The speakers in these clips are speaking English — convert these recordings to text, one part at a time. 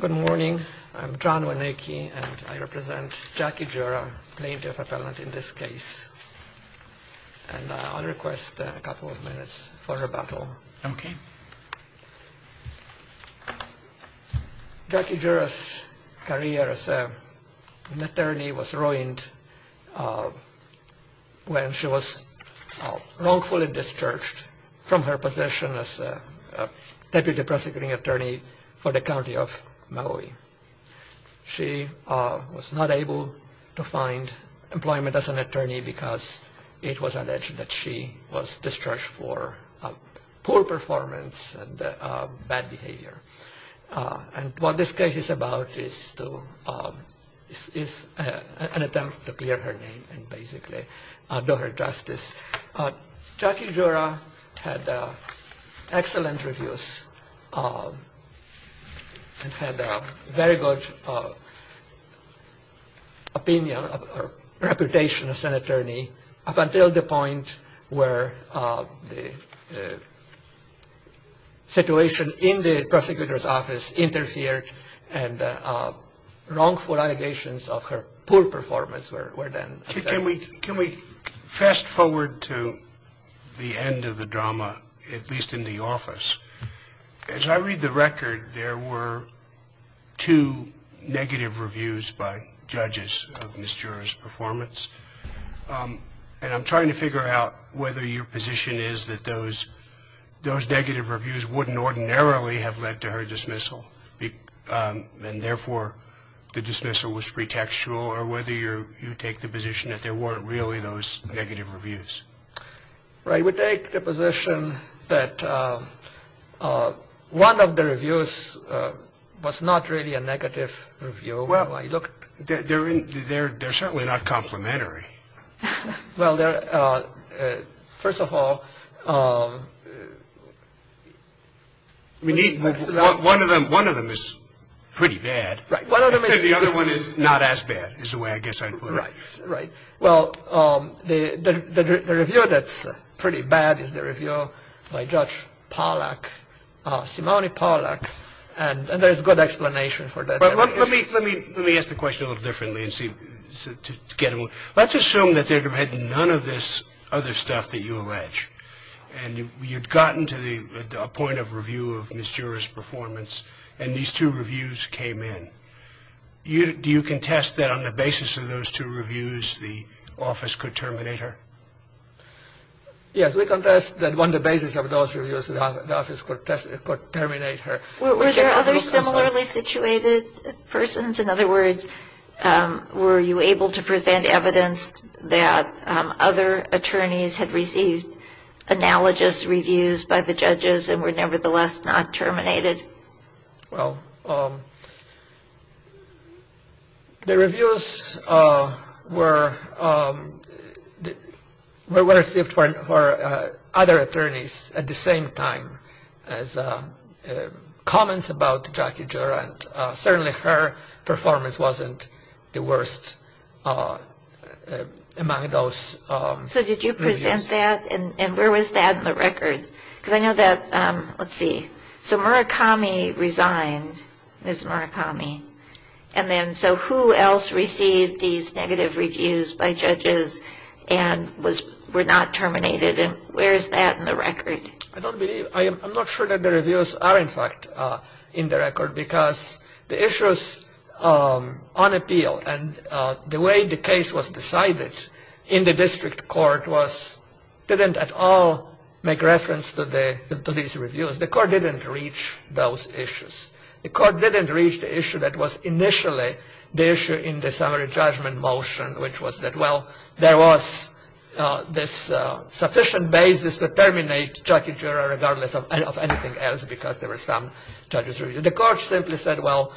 Good morning. I'm John Waneke, and I represent Jackie Jura, plaintiff appellant in this case. And I'll request a couple of minutes for rebuttal. OK. Jackie Jura's career as an attorney was ruined when she was wrongfully discharged from her position as Deputy Prosecuting Attorney for the County of Maui. She was not able to find employment as an attorney because it was alleged that she was discharged for poor performance and bad behavior. And what this case is about is an attempt to clear her name and basically do her justice. Jackie Jura had excellent reviews and had a very good opinion or reputation as an attorney up until the point where the situation in the prosecutor's office interfered and wrongful allegations of her poor performance were then asserted. Can we fast forward to the end of the drama, at least in the office? As I read the record, there were two negative reviews by judges of Ms. Jura's performance. And I'm trying to figure out whether your position is that those negative reviews wouldn't ordinarily have led to her dismissal, and therefore the dismissal was pretextual, or whether you take the position that there weren't really those negative reviews. I would take the position that one of the reviews was not really a negative review. Well, they're certainly not complementary. Well, first of all, one of them is pretty bad. Right. The other one is not as bad, is the way I guess I'd put it. Right. Well, the review that's pretty bad is the review by Judge Polak, Simone Polak, and there's good explanation for that. But let me ask the question a little differently and see, to get a little. Let's assume that there had been none of this other stuff that you allege, and you'd gotten to the point of review of Ms. Jura's performance, and these two reviews came in. Do you contest that on the basis of those two reviews, the office could terminate her? Yes, we contest that on the basis of those reviews, the office could terminate her. Were there other similarly situated persons? In other words, were you able to present evidence that other attorneys had received analogous reviews by the judges and were nevertheless not terminated? Well, the reviews were received for other attorneys at the same time as comments about Jackie Jura, and certainly her performance wasn't the worst among those reviews. So did you present that, and where was that in the record? Because I know that, let's see, so Murakami resigned, Ms. Murakami, and then so who else received these negative reviews by judges and were not terminated, and where is that in the record? I don't believe, I'm not sure that the reviews are in fact in the record because the issues on appeal and the way the case was decided in the district court didn't at all make reference to these reviews. The court didn't reach those issues. The court didn't reach the issue that was initially the issue in the summary judgment motion, which was that, well, there was this sufficient basis to terminate Jackie Jura regardless of anything else because there were some judges. The court simply said, well,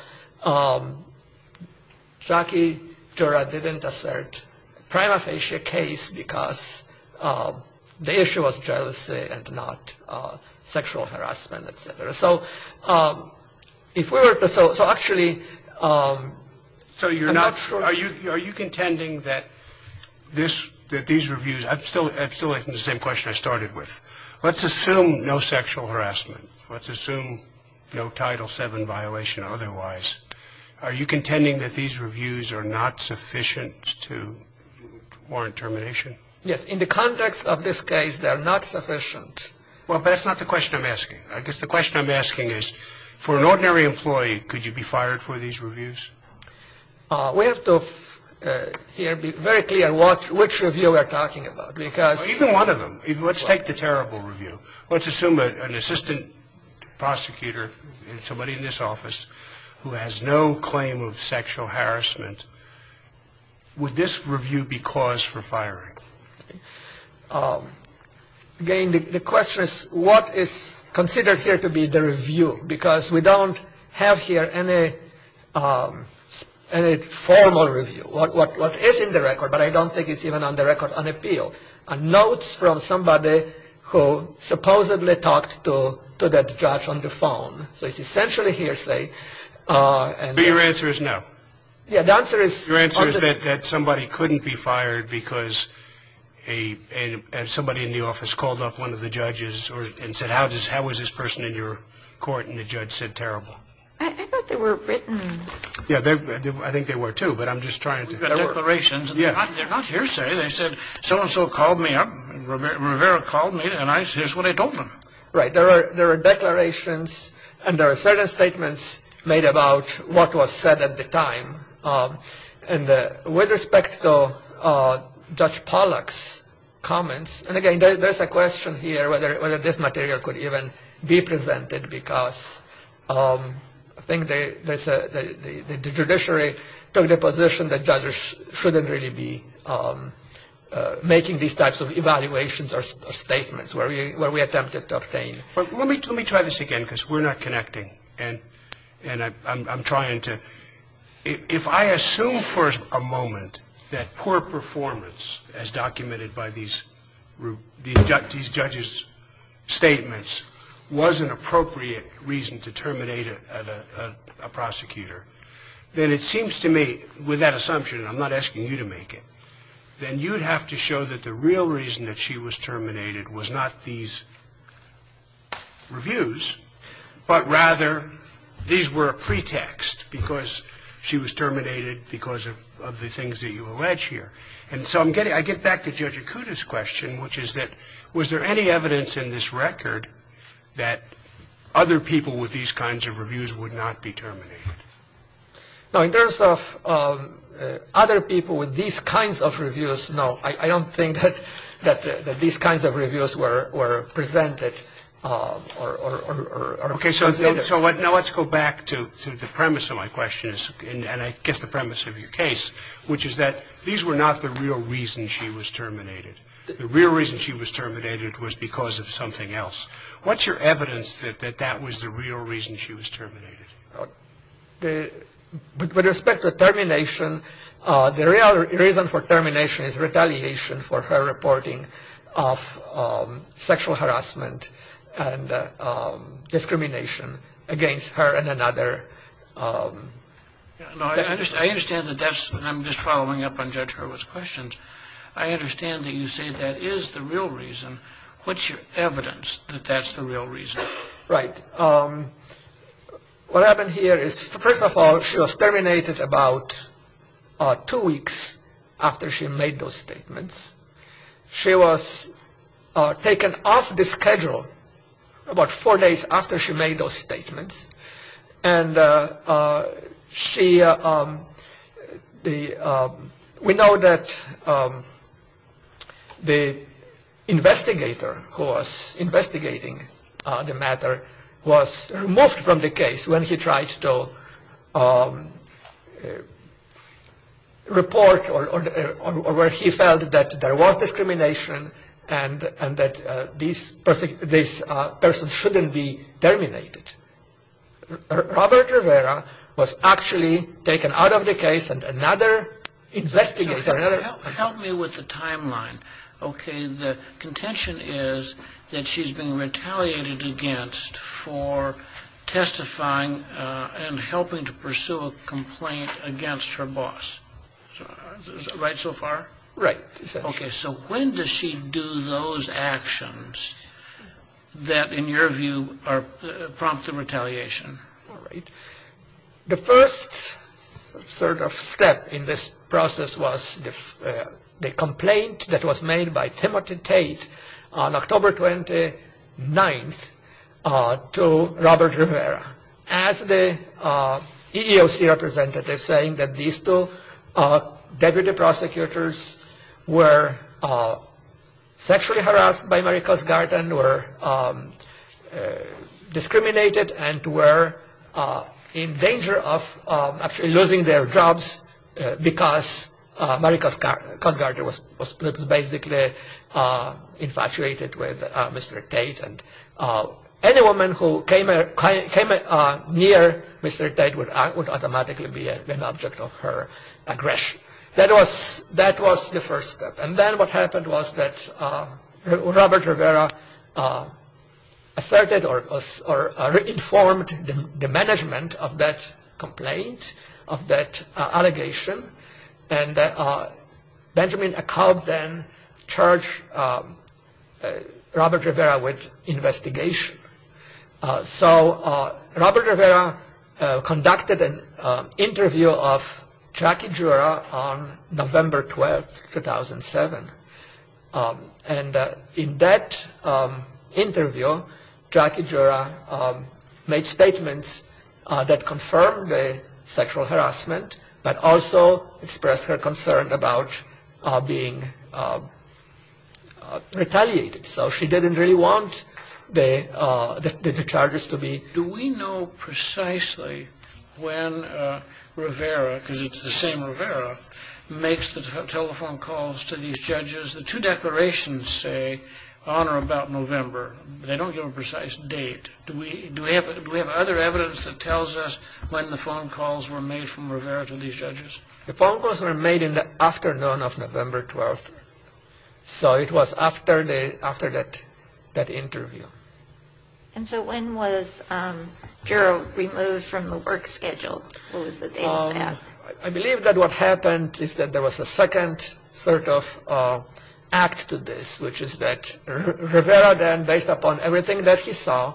Jackie Jura didn't assert prima facie case because the issue was jealousy and not sexual harassment, et cetera. So if we were to, so actually, I'm not sure. So you're not, are you contending that this, that these reviews, I'm still asking the same question I started with. Let's assume no sexual harassment. Let's assume no Title VII violation otherwise. Are you contending that these reviews are not sufficient to warrant termination? Yes, in the context of this case, they're not sufficient. Well, but that's not the question I'm asking. I guess the question I'm asking is for an ordinary employee, could you be fired for these reviews? We have to here be very clear what, which review we're talking about because Even one of them. Let's take the terrible review. Let's assume an assistant prosecutor and somebody in this office who has no claim of sexual harassment. Would this review be cause for firing? Again, the question is what is considered here to be the review? Because we don't have here any formal review. What is in the record, but I don't think it's even on the record, an appeal, are notes from somebody who supposedly talked to that judge on the phone. So it's essentially hearsay. So your answer is no? Yeah, the answer is. Your answer is that somebody couldn't be fired because somebody in the office called up one of the judges and said how was this person in your court? And the judge said terrible. I thought they were written. Yeah, I think they were too, but I'm just trying to. The declarations, they're not hearsay. They said so-and-so called me up, Rivera called me, and here's what I told them. Right, there are declarations and there are certain statements made about what was said at the time. And with respect to Judge Pollack's comments, and again there's a question here whether this material could even be presented because I think the judiciary took the position that judges shouldn't really be making these types of evaluations or statements where we attempted to obtain. Let me try this again because we're not connecting and I'm trying to. If I assume for a moment that poor performance as documented by these judges' statements was an appropriate reason to terminate a prosecutor, then it seems to me with that assumption, and I'm not asking you to make it, then you'd have to show that the real reason that she was terminated was not these reviews, but rather these were a pretext because she was terminated because of the things that you allege here. And so I'm getting – I get back to Judge Akuta's question, which is that was there any evidence in this record that other people with these kinds of reviews would not be terminated? No, in terms of other people with these kinds of reviews, no. I don't think that these kinds of reviews were presented or considered. Okay, so now let's go back to the premise of my question, and I guess the premise of your case, which is that these were not the real reason she was terminated. The real reason she was terminated was because of something else. What's your evidence that that was the real reason she was terminated? With respect to termination, the real reason for termination is retaliation for her reporting of sexual harassment and discrimination against her and another. I understand that that's – I'm just following up on Judge Hurwitz's questions. I understand that you say that is the real reason. What's your evidence that that's the real reason? Right. What happened here is, first of all, she was terminated about two weeks after she made those statements. She was taken off the schedule about four days after she made those statements. And she – we know that the investigator who was investigating the matter was removed from the case when he tried to report or where he felt that there was discrimination and that this person shouldn't be terminated. Robert Rivera was actually taken out of the case, and another investigator – Help me with the timeline. Okay, the contention is that she's been retaliated against for testifying and helping to pursue a complaint against her boss. Is that right so far? Right. Okay, so when does she do those actions that, in your view, prompt the retaliation? All right. The first sort of step in this process was the complaint that was made by Timothy Tate on October 29th to Robert Rivera as the EEOC representative saying that these two deputy prosecutors were sexually harassed by Mary Cosgarten, were discriminated, and were in danger of actually losing their jobs because Mary Cosgarten was basically infatuated with Mr. Tate. And any woman who came near Mr. Tate would automatically be an object of her aggression. That was the first step. And then what happened was that Robert Rivera asserted or informed the management of that complaint, of that allegation, and Benjamin Acob then charged Robert Rivera with investigation. So Robert Rivera conducted an interview of Jackie Jura on November 12th, 2007. And in that interview, Jackie Jura made statements that confirmed the sexual harassment but also expressed her concern about being retaliated. So she didn't really want the charges to be. Do we know precisely when Rivera, because it's the same Rivera, makes the telephone calls to these judges? The two declarations say on or about November, but they don't give a precise date. Do we have other evidence that tells us when the phone calls were made from Rivera to these judges? The phone calls were made in the afternoon of November 12th. So it was after that interview. And so when was Jura removed from the work schedule? What was the date of that? I believe that what happened is that there was a second sort of act to this, which is that Rivera then, based upon everything that he saw,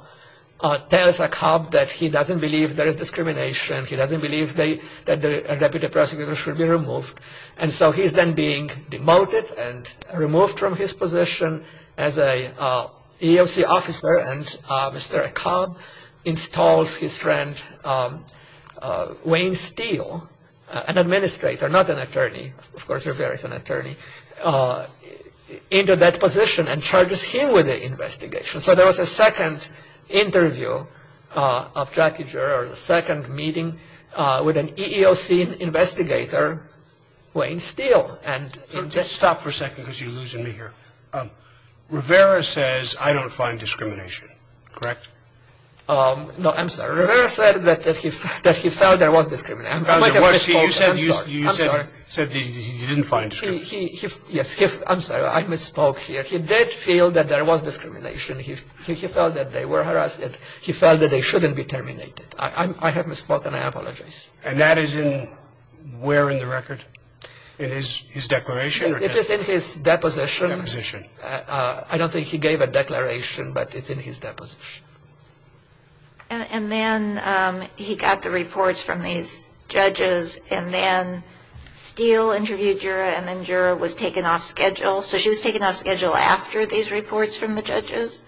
tells Acob that he doesn't believe there is discrimination. He doesn't believe that a deputy prosecutor should be removed. And so he's then being demoted and removed from his position as an EEOC officer. And Mr. Acob installs his friend Wayne Steele, an administrator, not an attorney. Of course, Rivera is an attorney, into that position and charges him with the investigation. So there was a second interview of Jackie Jura, or the second meeting with an EEOC investigator, Wayne Steele. Just stop for a second because you're losing me here. Rivera says, I don't find discrimination, correct? No, I'm sorry. Rivera said that he felt there was discrimination. You said he didn't find discrimination. Yes. I'm sorry. I misspoke here. He did feel that there was discrimination. He felt that they were harassed. He felt that they shouldn't be terminated. I have misspoken. I apologize. And that is in where in the record? In his declaration? It is in his deposition. Deposition. I don't think he gave a declaration, but it's in his deposition. And then he got the reports from these judges, and then Steele interviewed Jura, and then Jura was taken off schedule. So she was taken off schedule after these reports from the judges?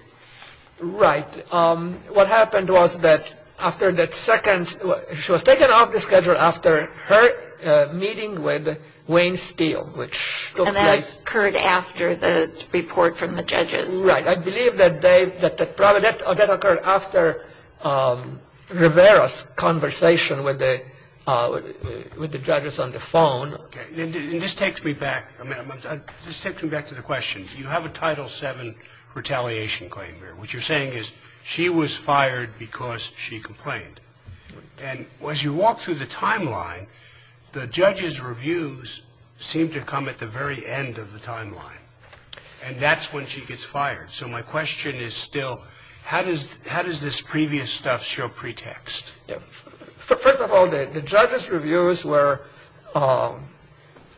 Right. What happened was that after that second, she was taken off the schedule after her meeting with Wayne Steele, which took place. And that occurred after the report from the judges. Right. I believe that occurred after Rivera's conversation with the judges on the phone. Okay. And this takes me back a minute. This takes me back to the question. You have a Title VII retaliation claim here. What you're saying is she was fired because she complained. And as you walk through the timeline, the judges' reviews seem to come at the very end of the timeline, and that's when she gets fired. So my question is still how does this previous stuff show pretext? First of all, the judges' reviews were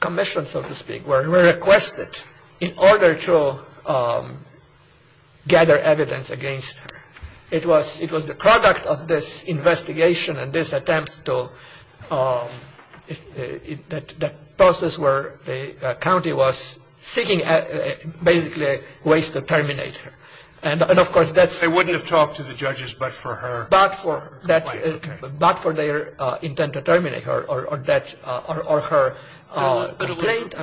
commissioned, so to speak, were requested in order to gather evidence against her. It was the product of this investigation and this attempt to, that process where the county was seeking basically ways to terminate her. And of course, that's... They wouldn't have talked to the judges but for her. But for their intent to terminate her or her complaint.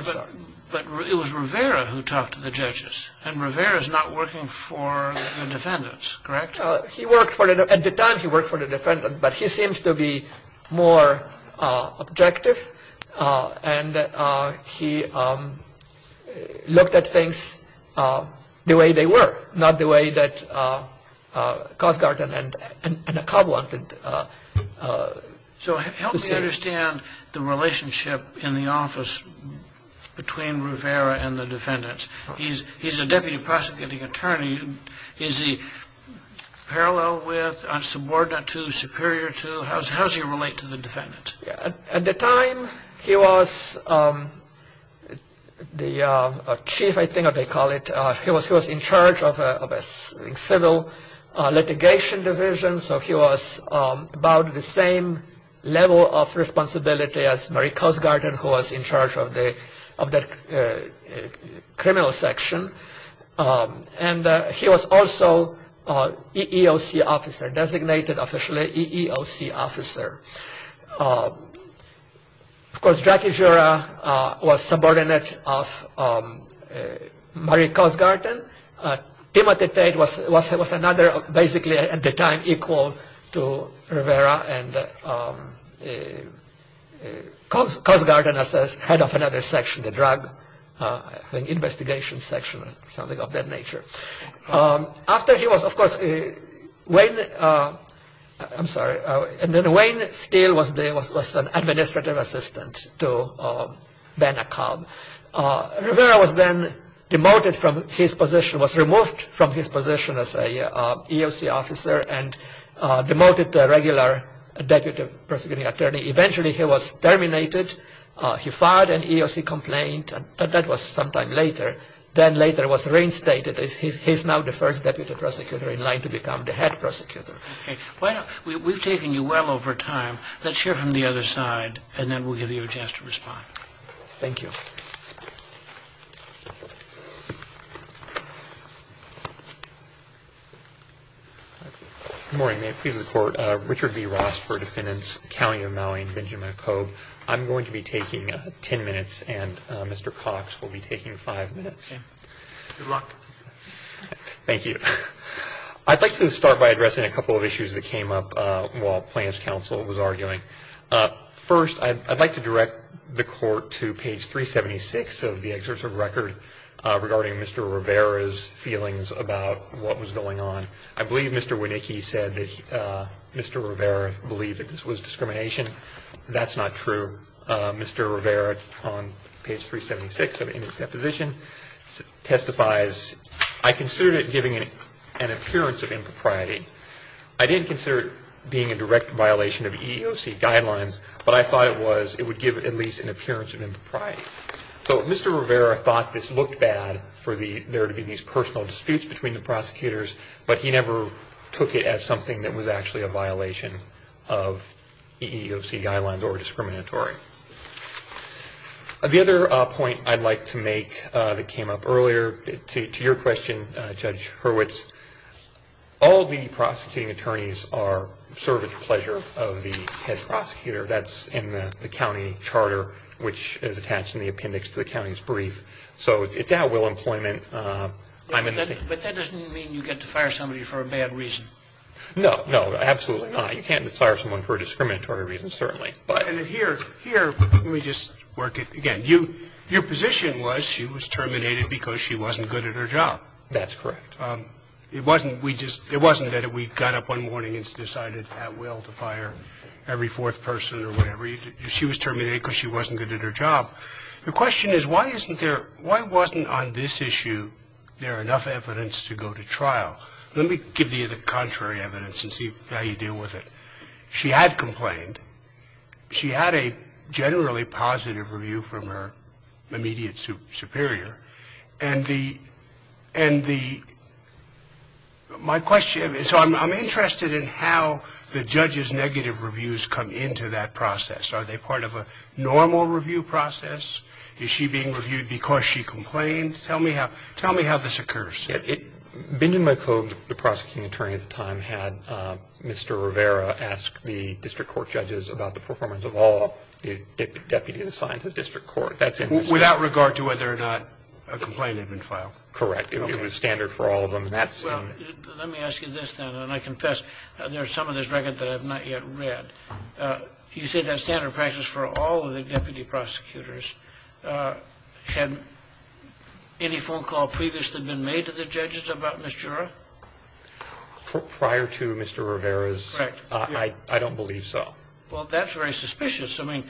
But it was Rivera who talked to the judges, and Rivera's not working for the defendants, correct? At the time, he worked for the defendants, but he seemed to be more objective, and he looked at things the way they were, not the way that Cosgarten and Acab wanted. So help me understand the relationship in the office between Rivera and the defendants. He's a deputy prosecuting attorney. Is he parallel with, subordinate to, superior to? How does he relate to the defendants? At the time, he was the chief, I think they call it. He was in charge of a civil litigation division, so he was about the same level of responsibility as Marie Cosgarten, who was in charge of the criminal section. And he was also EEOC officer, designated officially EEOC officer. Of course, Jackie Jura was subordinate of Marie Cosgarten. Timothy Tate was another, basically at the time, equal to Rivera and Cosgarten as head of another section, the drug investigation section, something of that nature. After he was, of course, Wayne, I'm sorry, and then Wayne Steele was an administrative assistant to Ben Acab. Rivera was then demoted from his position, was removed from his position as an EEOC officer and demoted to a regular deputy prosecuting attorney. Eventually, he was terminated. He filed an EEOC complaint, and that was some time later. Then later was reinstated. He's now the first deputy prosecutor in line to become the head prosecutor. Okay. We've taken you well over time. Let's hear from the other side, and then we'll give you a chance to respond. Thank you. Good morning. May it please the Court. Richard B. Ross for Defendants, County of Maui, and Benjamin McCobb. I'm going to be taking 10 minutes, and Mr. Cox will be taking 5 minutes. Okay. Good luck. Thank you. I'd like to start by addressing a couple of issues that came up while plaintiff's counsel was arguing. First, I'd like to direct the Court to page 376 of the exertive record regarding Mr. Rivera's feelings about what was going on. I believe Mr. Winicki said that Mr. Rivera believed that this was discrimination. That's not true. Mr. Rivera on page 376 in his deposition testifies, I considered it giving an appearance of impropriety. I didn't consider it being a direct violation of EEOC guidelines, but I thought it would give at least an appearance of impropriety. So Mr. Rivera thought this looked bad for there to be these personal disputes between the prosecutors, but he never took it as something that was actually a violation of EEOC guidelines or discriminatory. The other point I'd like to make that came up earlier to your question, Judge Hurwitz, all the prosecuting attorneys serve at the pleasure of the head prosecutor. That's in the county charter, which is attached in the appendix to the county's brief. So it's at will employment. And I don't want to expose the subject of their questions, but I mean that, I'm in the scene. Scalia. But that doesn't mean you get to fire somebody for a bad reason. No, no. Absolutely not. You can't just fire someone for a discriminatory reason, certainly. But here we just work it again. You HIS position was she was terminated because she wasn't good at her job? I don't know if you have any evidence, because I don't think you have any evidence to, there are enough evidence to go to trial. Let me give you the contrary evidence and see how you deal with it. She had complained. She had a generally positive review from her immediate superior. And the, and the, my question, so I'm interested in how the judge's negative reviews come into that process. I mean, I don't know. I mean, I don't know. I mean, I don't know. That is how we do it in this case. Tell me how this occurs. Benjamin McCobe, the prosecuting attorney at the time had Mr. Rivera ask the district court judges about the performance of all the deputies assigned to the district court. That's in the statute. Without regard to whether or not a complaint had been filed? Correct. It was standard for all of them. And that's in the statute. Let me ask you this then, and I confess. There is some of this record that I have not yet read. call to a lawyer would be very, very restrictive. I don't believe so. Well, that's very suspicious. I mean,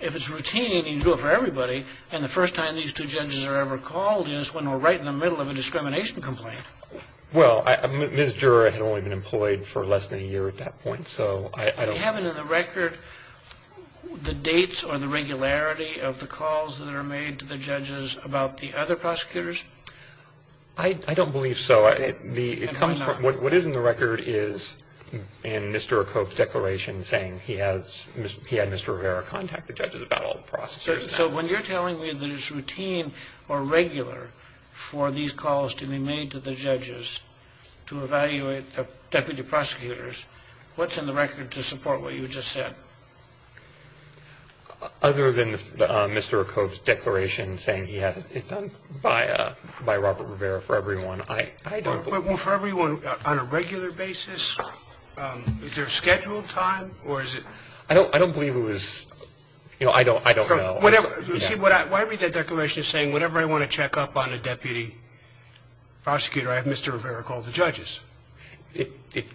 if it's routine, you can do it for everybody. And the first time these two judges are ever called is when we're right in the middle of a discrimination complaint. Well, Ms. Jura had only been employed for less than a year at that point, so I don't know. Do you have it in the record, the dates or the regularity of the calls that are made I don't. I don't. I don't. I don't. I don't. I don't. I don't. I don't. I don't. I don't. I don't. I don't. I don't. I don't. I don't believe so. And why not? What is in the record is in Mr. Cobb's declaration saying he has Mr. Rivera contact the judges about all the prosecutor's data. So when you're telling me that it's routine or regular for these calls to be made to the judges to evaluate the deputy prosecutors, what's in the record to support what you just said? Other than Mr. Cobb's declaration saying he had it done by Robert Rivera for everyone. I don't believe. Well, for everyone on a regular basis, is there a scheduled time or is it? I don't believe it was. You know, I don't know. You see, why read that declaration saying whenever I want to check up on a deputy prosecutor, I have Mr. Rivera call the judges?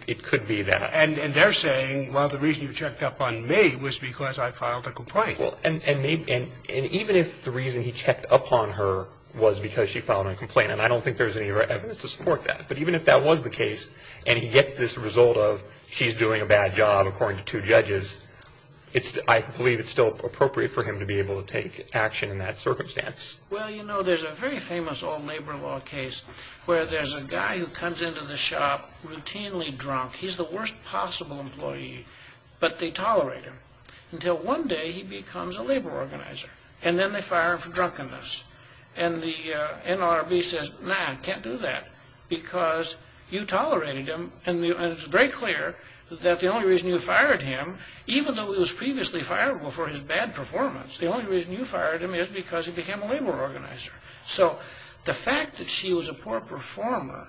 It could be that. And they're saying, well, the reason you checked up on me was because I filed a complaint. And even if the reason he checked up on her was because she filed a complaint, and I don't think there's any evidence to support that, but even if that was the case and he gets this result of she's doing a bad job according to two judges, I believe it's still appropriate for him to be able to take action in that circumstance. Well, you know, there's a very famous old labor law case where there's a guy who comes into the shop routinely drunk. He's the worst possible employee. But they tolerate him until one day he becomes a labor organizer. And then they fire him for drunkenness. And the NLRB says, nah, you can't do that because you tolerated him. And it's very clear that the only reason you fired him, even though he was previously fireable for his bad performance, the only reason you fired him is because he became a labor organizer. So the fact that she was a poor performer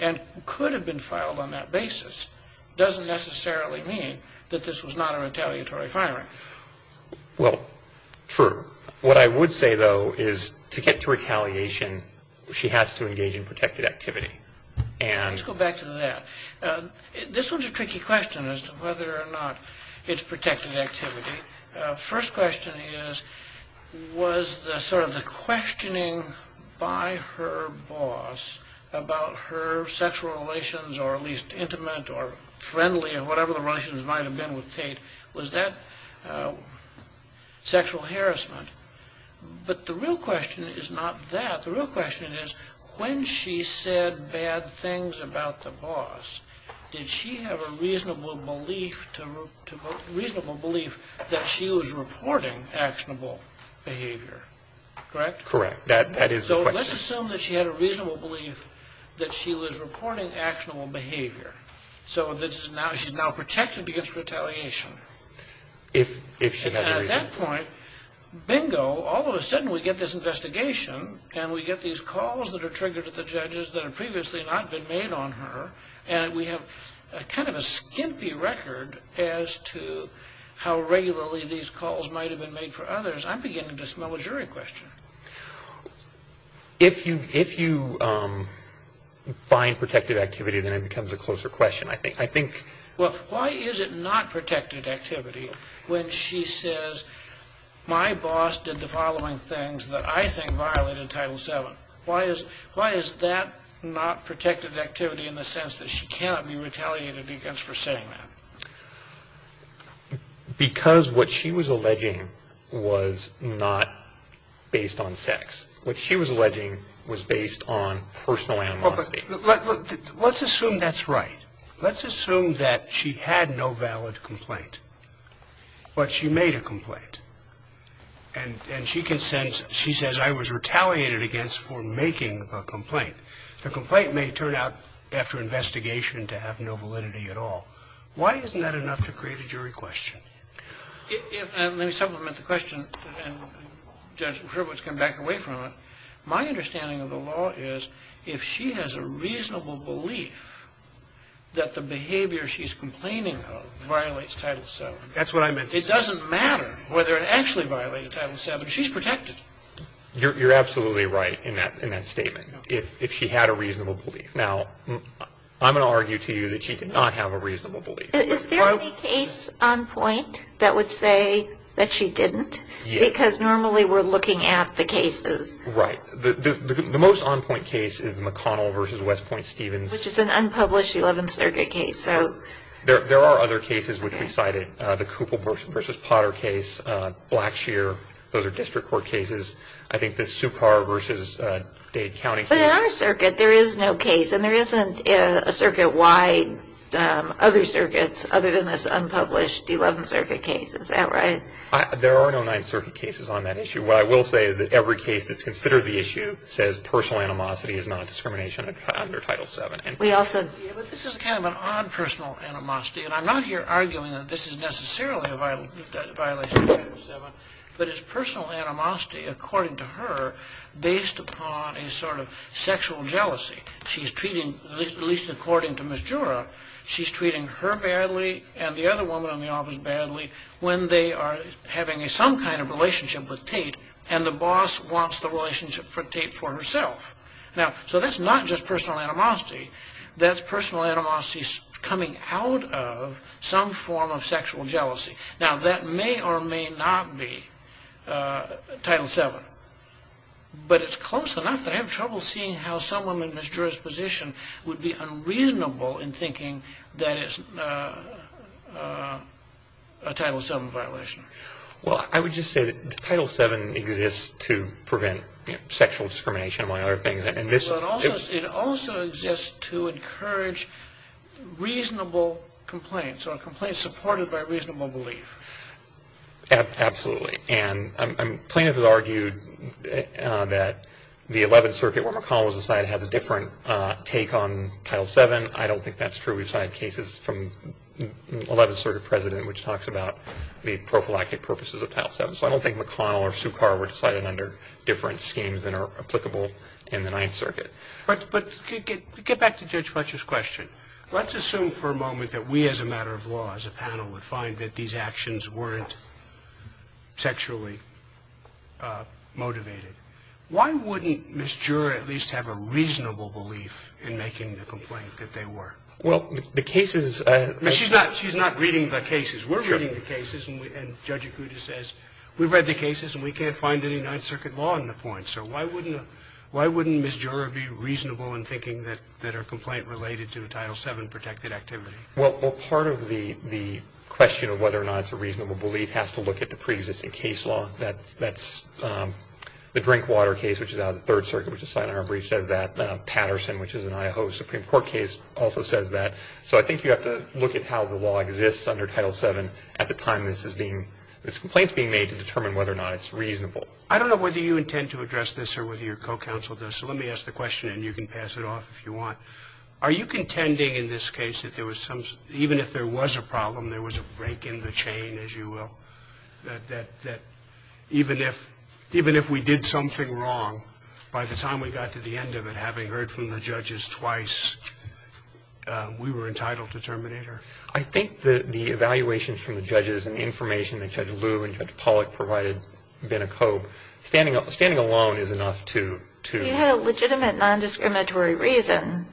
and could have been filed on that basis doesn't necessarily mean that this was not a retaliatory firing. Well, true. What I would say, though, is to get to retaliation, she has to engage in protected activity. Let's go back to that. This one's a tricky question as to whether or not it's protected activity. First question is, was the questioning by her boss about her sexual relations, or at least intimate or friendly or whatever the relations might have been with Kate, was that sexual harassment? But the real question is not that. The real question is, when she said bad things about the boss, did she have a reasonable belief that she was reporting actionable behavior? Correct? Correct. That is the question. So let's assume that she had a reasonable belief that she was reporting actionable behavior. So she's now protected against retaliation. If she never even ---- And at that point, bingo, all of a sudden we get this investigation and we get these kind of a skimpy record as to how regularly these calls might have been made for others, I'm beginning to smell a jury question. If you find protected activity, then it becomes a closer question, I think. Well, why is it not protected activity when she says, my boss did the following things that I think violated Title VII? Why is that not protected activity in the sense that she cannot be retaliated against for saying that? Because what she was alleging was not based on sex. What she was alleging was based on personal animosity. Let's assume that's right. Let's assume that she had no valid complaint. But she made a complaint. And she consents, she says, I was retaliated against for making a complaint. The complaint may turn out after investigation to have no validity at all. Why isn't that enough to create a jury question? And let me supplement the question, and Judge Sherwood's come back away from it. My understanding of the law is if she has a reasonable belief that the behavior she's complaining of violates Title VII. That's what I meant. It doesn't matter whether it actually violated Title VII. She's protected. You're absolutely right in that statement. If she had a reasonable belief. Now, I'm going to argue to you that she did not have a reasonable belief. Is there any case on point that would say that she didn't? Yes. Because normally we're looking at the cases. Right. The most on point case is McConnell v. West Point Stevens. Which is an unpublished 11th Circuit case. There are other cases which we cited. The Cooper v. Potter case. Blackshear. Those are district court cases. I think the Sukar v. Dade County case. But in our circuit there is no case. And there isn't a circuit wide other circuits other than this unpublished 11th Circuit case. Is that right? There are no 9th Circuit cases on that issue. What I will say is that every case that's considered the issue says personal animosity is not discrimination under Title VII. This is kind of an odd personal animosity. And I'm not here arguing that this is necessarily a violation of Title VII. But it's personal animosity according to her based upon a sort of sexual jealousy. She's treating, at least according to Ms. Jura, she's treating her badly and the other woman in the office badly when they are having some kind of relationship with Tate and the boss wants the relationship with Tate for herself. Now, so that's not just personal animosity. That's personal animosity coming out of some form of sexual jealousy. Now, that may or may not be Title VII. But it's close enough that I have trouble seeing how someone in Ms. Jura's position would be unreasonable in thinking that it's a Title VII violation. Well, I would just say that Title VII exists to prevent sexual discrimination, among other things. It also exists to encourage reasonable complaints or complaints supported by reasonable belief. Absolutely. And plaintiff has argued that the 11th Circuit, where McConnell was assigned, has a different take on Title VII. I don't think that's true. We've had cases from the 11th Circuit President which talks about the prophylactic purposes of Title VII. So I don't think McConnell or Sue Carr were decided under different schemes than are applicable in the 9th Circuit. But get back to Judge Fletcher's question. Let's assume for a moment that we as a matter of law, as a panel, would find that these actions weren't sexually motivated. Why wouldn't Ms. Jura at least have a reasonable belief in making the complaint that they were? Well, the case is a ---- She's not reading the cases. Sure. We're reading the cases. And Judge Acuda says we've read the cases and we can't find any 9th Circuit law on the point. So why wouldn't Ms. Jura be reasonable in thinking that her complaint related to Title VII protected activity? Well, part of the question of whether or not it's a reasonable belief has to look at the preexisting case law. That's the Drinkwater case, which is out of the 3rd Circuit, which is signed in our brief, says that. Patterson, which is an IAHO Supreme Court case, also says that. So I think you have to look at how the law exists under Title VII at the time this is being ---- this complaint is being made to determine whether or not it's reasonable. I don't know whether you intend to address this or whether your co-counsel does, so let me ask the question and you can pass it off if you want. Are you contending in this case that there was some ---- even if there was a problem, there was a break in the chain, as you will, that even if we did something wrong, by the time we got to the end of it, having heard from the judges twice, we were entitled to terminate her? I think the evaluations from the judges and the information that Judge Liu and Judge Pollack provided have been a code. Standing alone is enough to ---- You had a legitimate nondiscriminatory reason,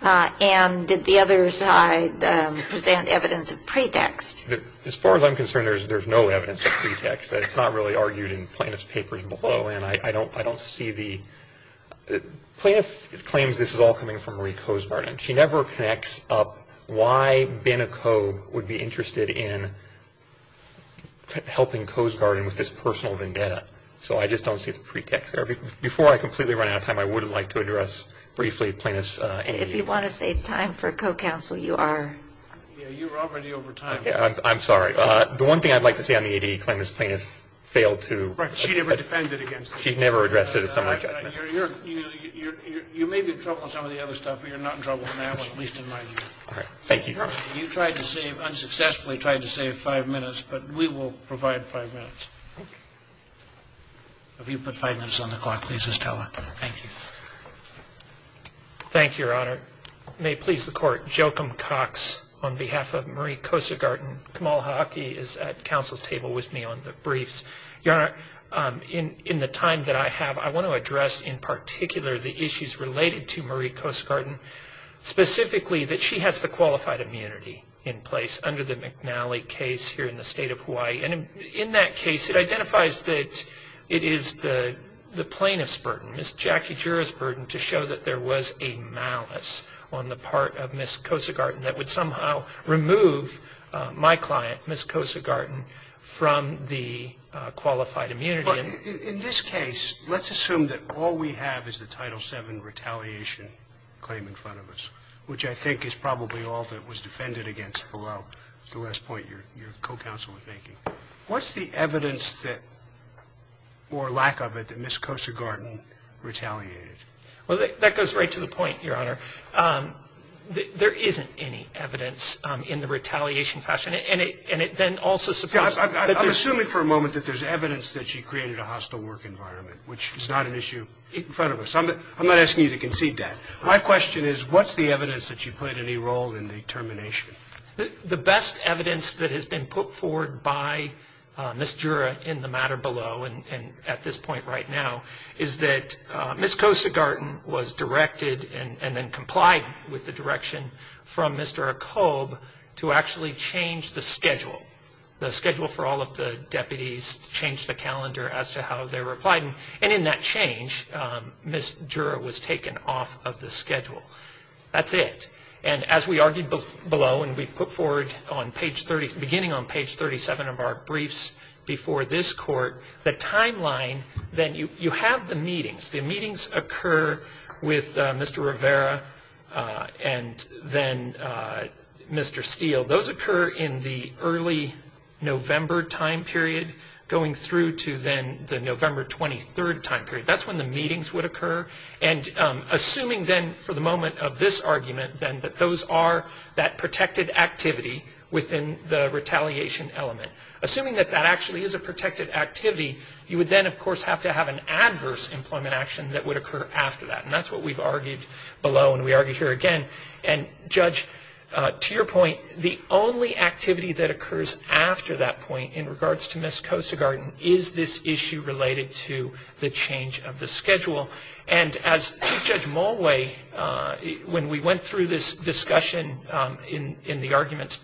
and did the other side present evidence of pretext? As far as I'm concerned, there's no evidence of pretext. It's not really argued in Plaintiff's papers below, and I don't see the ---- Plaintiff claims this is all coming from Marie Cosgarden. She never connects up why Benekoe would be interested in helping Cosgarden with this personal vendetta, so I just don't see the pretext there. Before I completely run out of time, I would like to address briefly Plaintiff's ---- If you want to save time for co-counsel, you are. You're already over time. I'm sorry. The one thing I'd like to say on the ADA claim is Plaintiff failed to ---- Right. She never defended against it. She never addressed it as someone ---- You may be in trouble on some of the other stuff, but you're not in trouble on that one, at least in my view. All right. Thank you. You tried to save, unsuccessfully tried to save five minutes, but we will provide five minutes. Okay. If you put five minutes on the clock, please, Estella. Thank you. Thank you, Your Honor. Your Honor, may it please the Court, Joachim Cox on behalf of Marie Cosgarden. Kamal Haake is at counsel's table with me on the briefs. Your Honor, in the time that I have, I want to address in particular the issues related to Marie Cosgarden, specifically that she has the qualified immunity in place under the McNally case here in the State of Hawaii. And in that case, it identifies that it is the plaintiff's burden, Ms. Jackie Jura's burden, to show that there was a malice on the part of Ms. Cosgarden that would somehow remove my client, Ms. Cosgarden, from the qualified immunity. In this case, let's assume that all we have is the Title VII retaliation claim in front of us, which I think is probably all that was defended against below, the last point your co-counsel was making. What's the evidence that, or lack of it, that Ms. Cosgarden retaliated? Well, that goes right to the point, Your Honor. There isn't any evidence in the retaliation fashion. And it then also supposes that there's not. I'm assuming for a moment that there's evidence that she created a hostile work environment, which is not an issue in front of us. I'm not asking you to concede that. My question is, what's the evidence that she played any role in the termination? The best evidence that has been put forward by Ms. Jura in the matter below, and at this point right now, is that Ms. Cosgarden was directed and then complied with the direction from Mr. Akobe to actually change the schedule. The schedule for all of the deputies changed the calendar as to how they were applied. And in that change, Ms. Jura was taken off of the schedule. That's it. And as we argued below and we put forward beginning on page 37 of our briefs before this court, the timeline that you have the meetings. The meetings occur with Mr. Rivera and then Mr. Steele. Those occur in the early November time period going through to then the November 23rd time period. That's when the meetings would occur. And assuming then for the moment of this argument, then that those are that protected activity within the retaliation element. Assuming that that actually is a protected activity, you would then of course have to have an adverse employment action that would occur after that. And that's what we've argued below and we argue here again. And Judge, to your point, the only activity that occurs after that point in regards to Ms. Cosgarden is this issue related to the change of the schedule. And as Chief Judge Mulway, when we went through this discussion in the arguments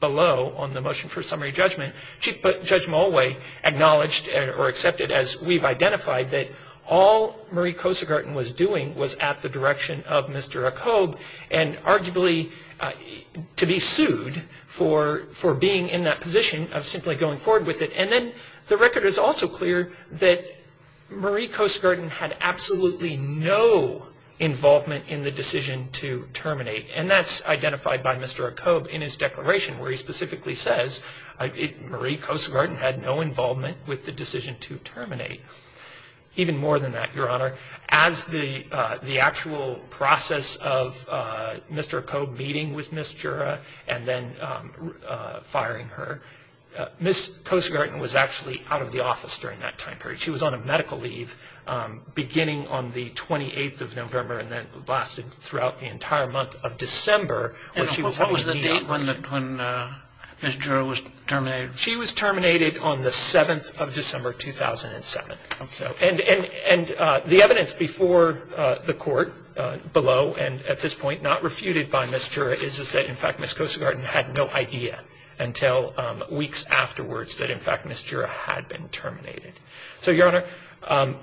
below on the motion for summary judgment, Chief Judge Mulway acknowledged or accepted, as we've identified, that all Marie Cosgarden was doing was at the direction of Mr. Acobe and arguably to be sued for being in that position of simply going forward with it. And then the record is also clear that Marie Cosgarden had absolutely no involvement in the decision to terminate. And that's identified by Mr. Acobe in his declaration where he specifically says, Marie Cosgarden had no involvement with the decision to terminate. Even more than that, Your Honor, as the actual process of Mr. Acobe meeting with Ms. Jura and then firing her, Ms. Cosgarden was actually out of the office during that time period. She was on a medical leave beginning on the 28th of November and then lasted throughout the entire month of December. And what was the date when Ms. Jura was terminated? She was terminated on the 7th of December, 2007. And the evidence before the court below and at this point not refuted by Ms. Jura is that, in fact, Ms. Cosgarden had no idea until weeks afterwards that, in fact, Ms. Jura had been terminated. So, Your Honor,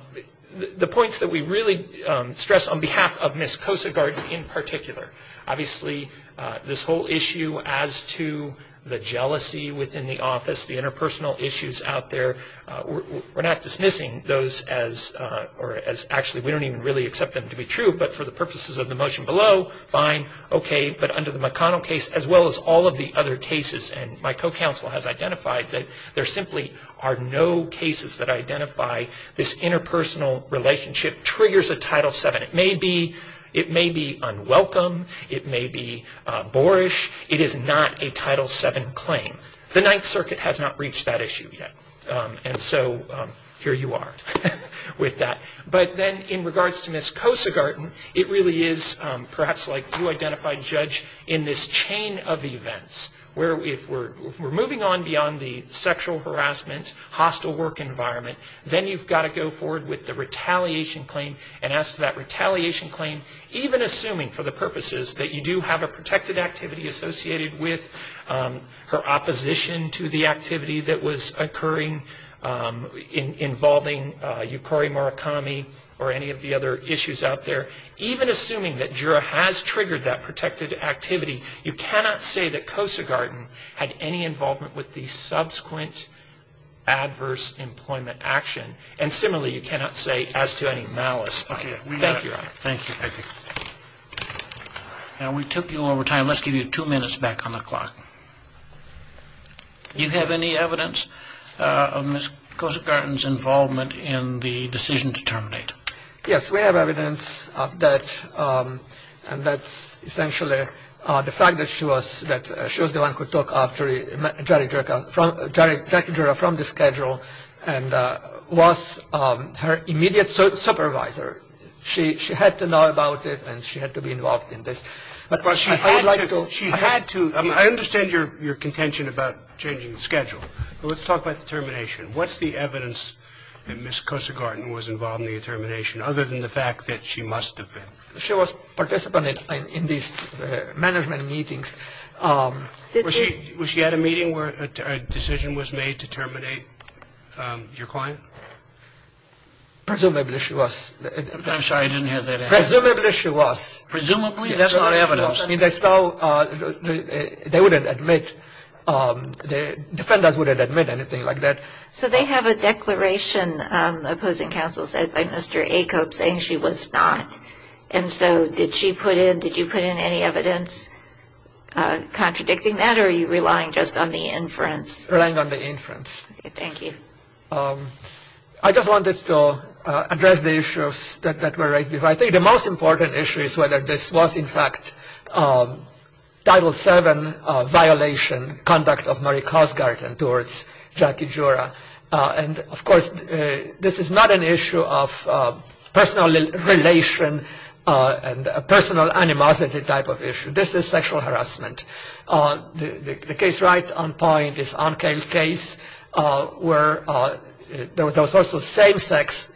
the points that we really stress on behalf of Ms. Cosgarden in particular, obviously this whole issue as to the jealousy within the office, the interpersonal issues out there, we're not dismissing those as actually we don't even really accept them to be true, but for the purposes of the motion below, fine, okay. But under the McConnell case, as well as all of the other cases, and my co-counsel has identified that there simply are no cases that identify this interpersonal relationship triggers a Title VII. It may be unwelcome. It may be boorish. It is not a Title VII claim. The Ninth Circuit has not reached that issue yet. And so here you are with that. But then in regards to Ms. Cosgarden, it really is perhaps like you identified, Judge, in this chain of events where if we're moving on beyond the sexual harassment, hostile work environment, then you've got to go forward with the retaliation claim. And as to that retaliation claim, even assuming for the purposes that you do have a protected activity associated with her opposition to the activity that was occurring involving Yukari Murakami or any of the other issues out there, even assuming that Jura has triggered that protected activity, you cannot say that Cosgarden had any involvement with the subsequent adverse employment action. And similarly, you cannot say as to any malice. Thank you, Your Honor. Thank you. Now, we took you over time. Let's give you two minutes back on the clock. You have any evidence of Ms. Cosgarden's involvement in the decision to terminate? Yes. We have evidence of that, and that's essentially the fact that she was the one who took after Jerry Jura from the schedule and was her immediate supervisor. She had to know about it, and she had to be involved in this. She had to. I understand your contention about changing the schedule, but let's talk about the termination. What's the evidence that Ms. Cosgarden was involved in the termination, other than the fact that she must have been? She was participating in these management meetings. Was she at a meeting where a decision was made to terminate your client? Presumably she was. I'm sorry. I didn't hear that. Presumably she was. Presumably? That's not evidence. They wouldn't admit. Defenders wouldn't admit anything like that. So they have a declaration, opposing counsel said, by Mr. Acobe saying she was not. And so did she put in, did you put in any evidence contradicting that, or are you relying just on the inference? Relying on the inference. Thank you. I just wanted to address the issues that were raised. I think the most important issue is whether this was, in fact, Title VII violation, conduct of Marie Cosgarden towards Jackie Jura. And, of course, this is not an issue of personal relation and personal animosity type of issue. This is sexual harassment. The case right on point is Onkale case where there was also same-sex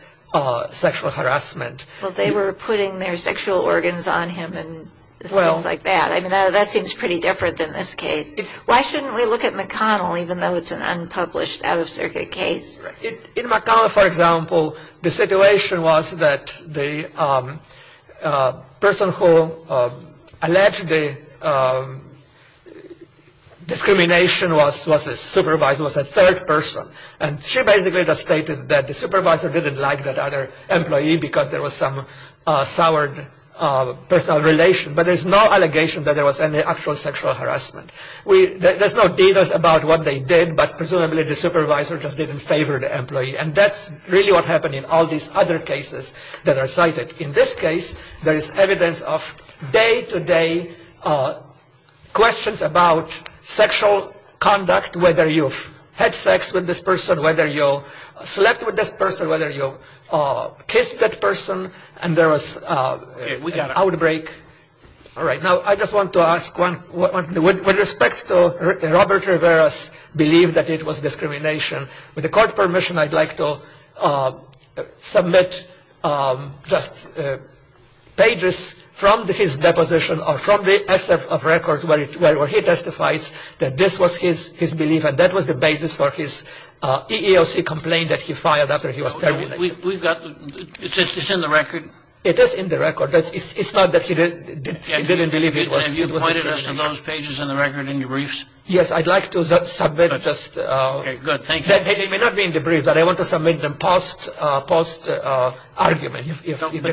sexual harassment. Well, they were putting their sexual organs on him and things like that. I mean, that seems pretty different than this case. Why shouldn't we look at McConnell, even though it's an unpublished, out-of-circuit case? In McConnell, for example, the situation was that the person who alleged the discrimination was a supervisor, was a third person. And she basically just stated that the supervisor didn't like that other employee because there was some soured personal relation. But there's no allegation that there was any actual sexual harassment. There's no details about what they did, but presumably the supervisor just didn't favor the employee. And that's really what happened in all these other cases that are cited. In this case, there is evidence of day-to-day questions about sexual conduct, whether you've had sex with this person, whether you slept with this person, whether you kissed that person, and there was an outbreak. All right. Now, I just want to ask, with respect to Robert Rivera's belief that it was discrimination, with the court permission, I'd like to submit just pages from his deposition or from the excerpt of records where he testifies that this was his belief and that was the basis for his EEOC complaint that he filed after he was terminated. It's in the record? It is in the record. It's not that he didn't believe it was discrimination. And you pointed us to those pages in the record in your briefs? Yes. I'd like to submit just... Okay. Good. Thank you. They may not be in the brief, but I want to submit them post-argument. But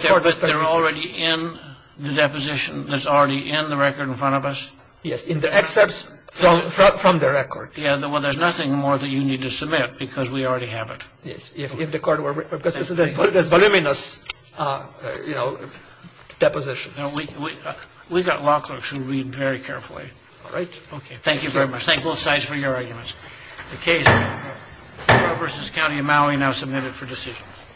they're already in the deposition that's already in the record in front of us? Yes. In the excerpts from the record. Yeah. Well, there's nothing more that you need to submit because we already have it. Yes. If the court were... Because there's voluminous, you know, depositions. We've got law clerks who read very carefully. All right. Okay. Thank you very much. Thank both sides for your arguments. The case, Rivera v. County of Maui, now submitted for decision.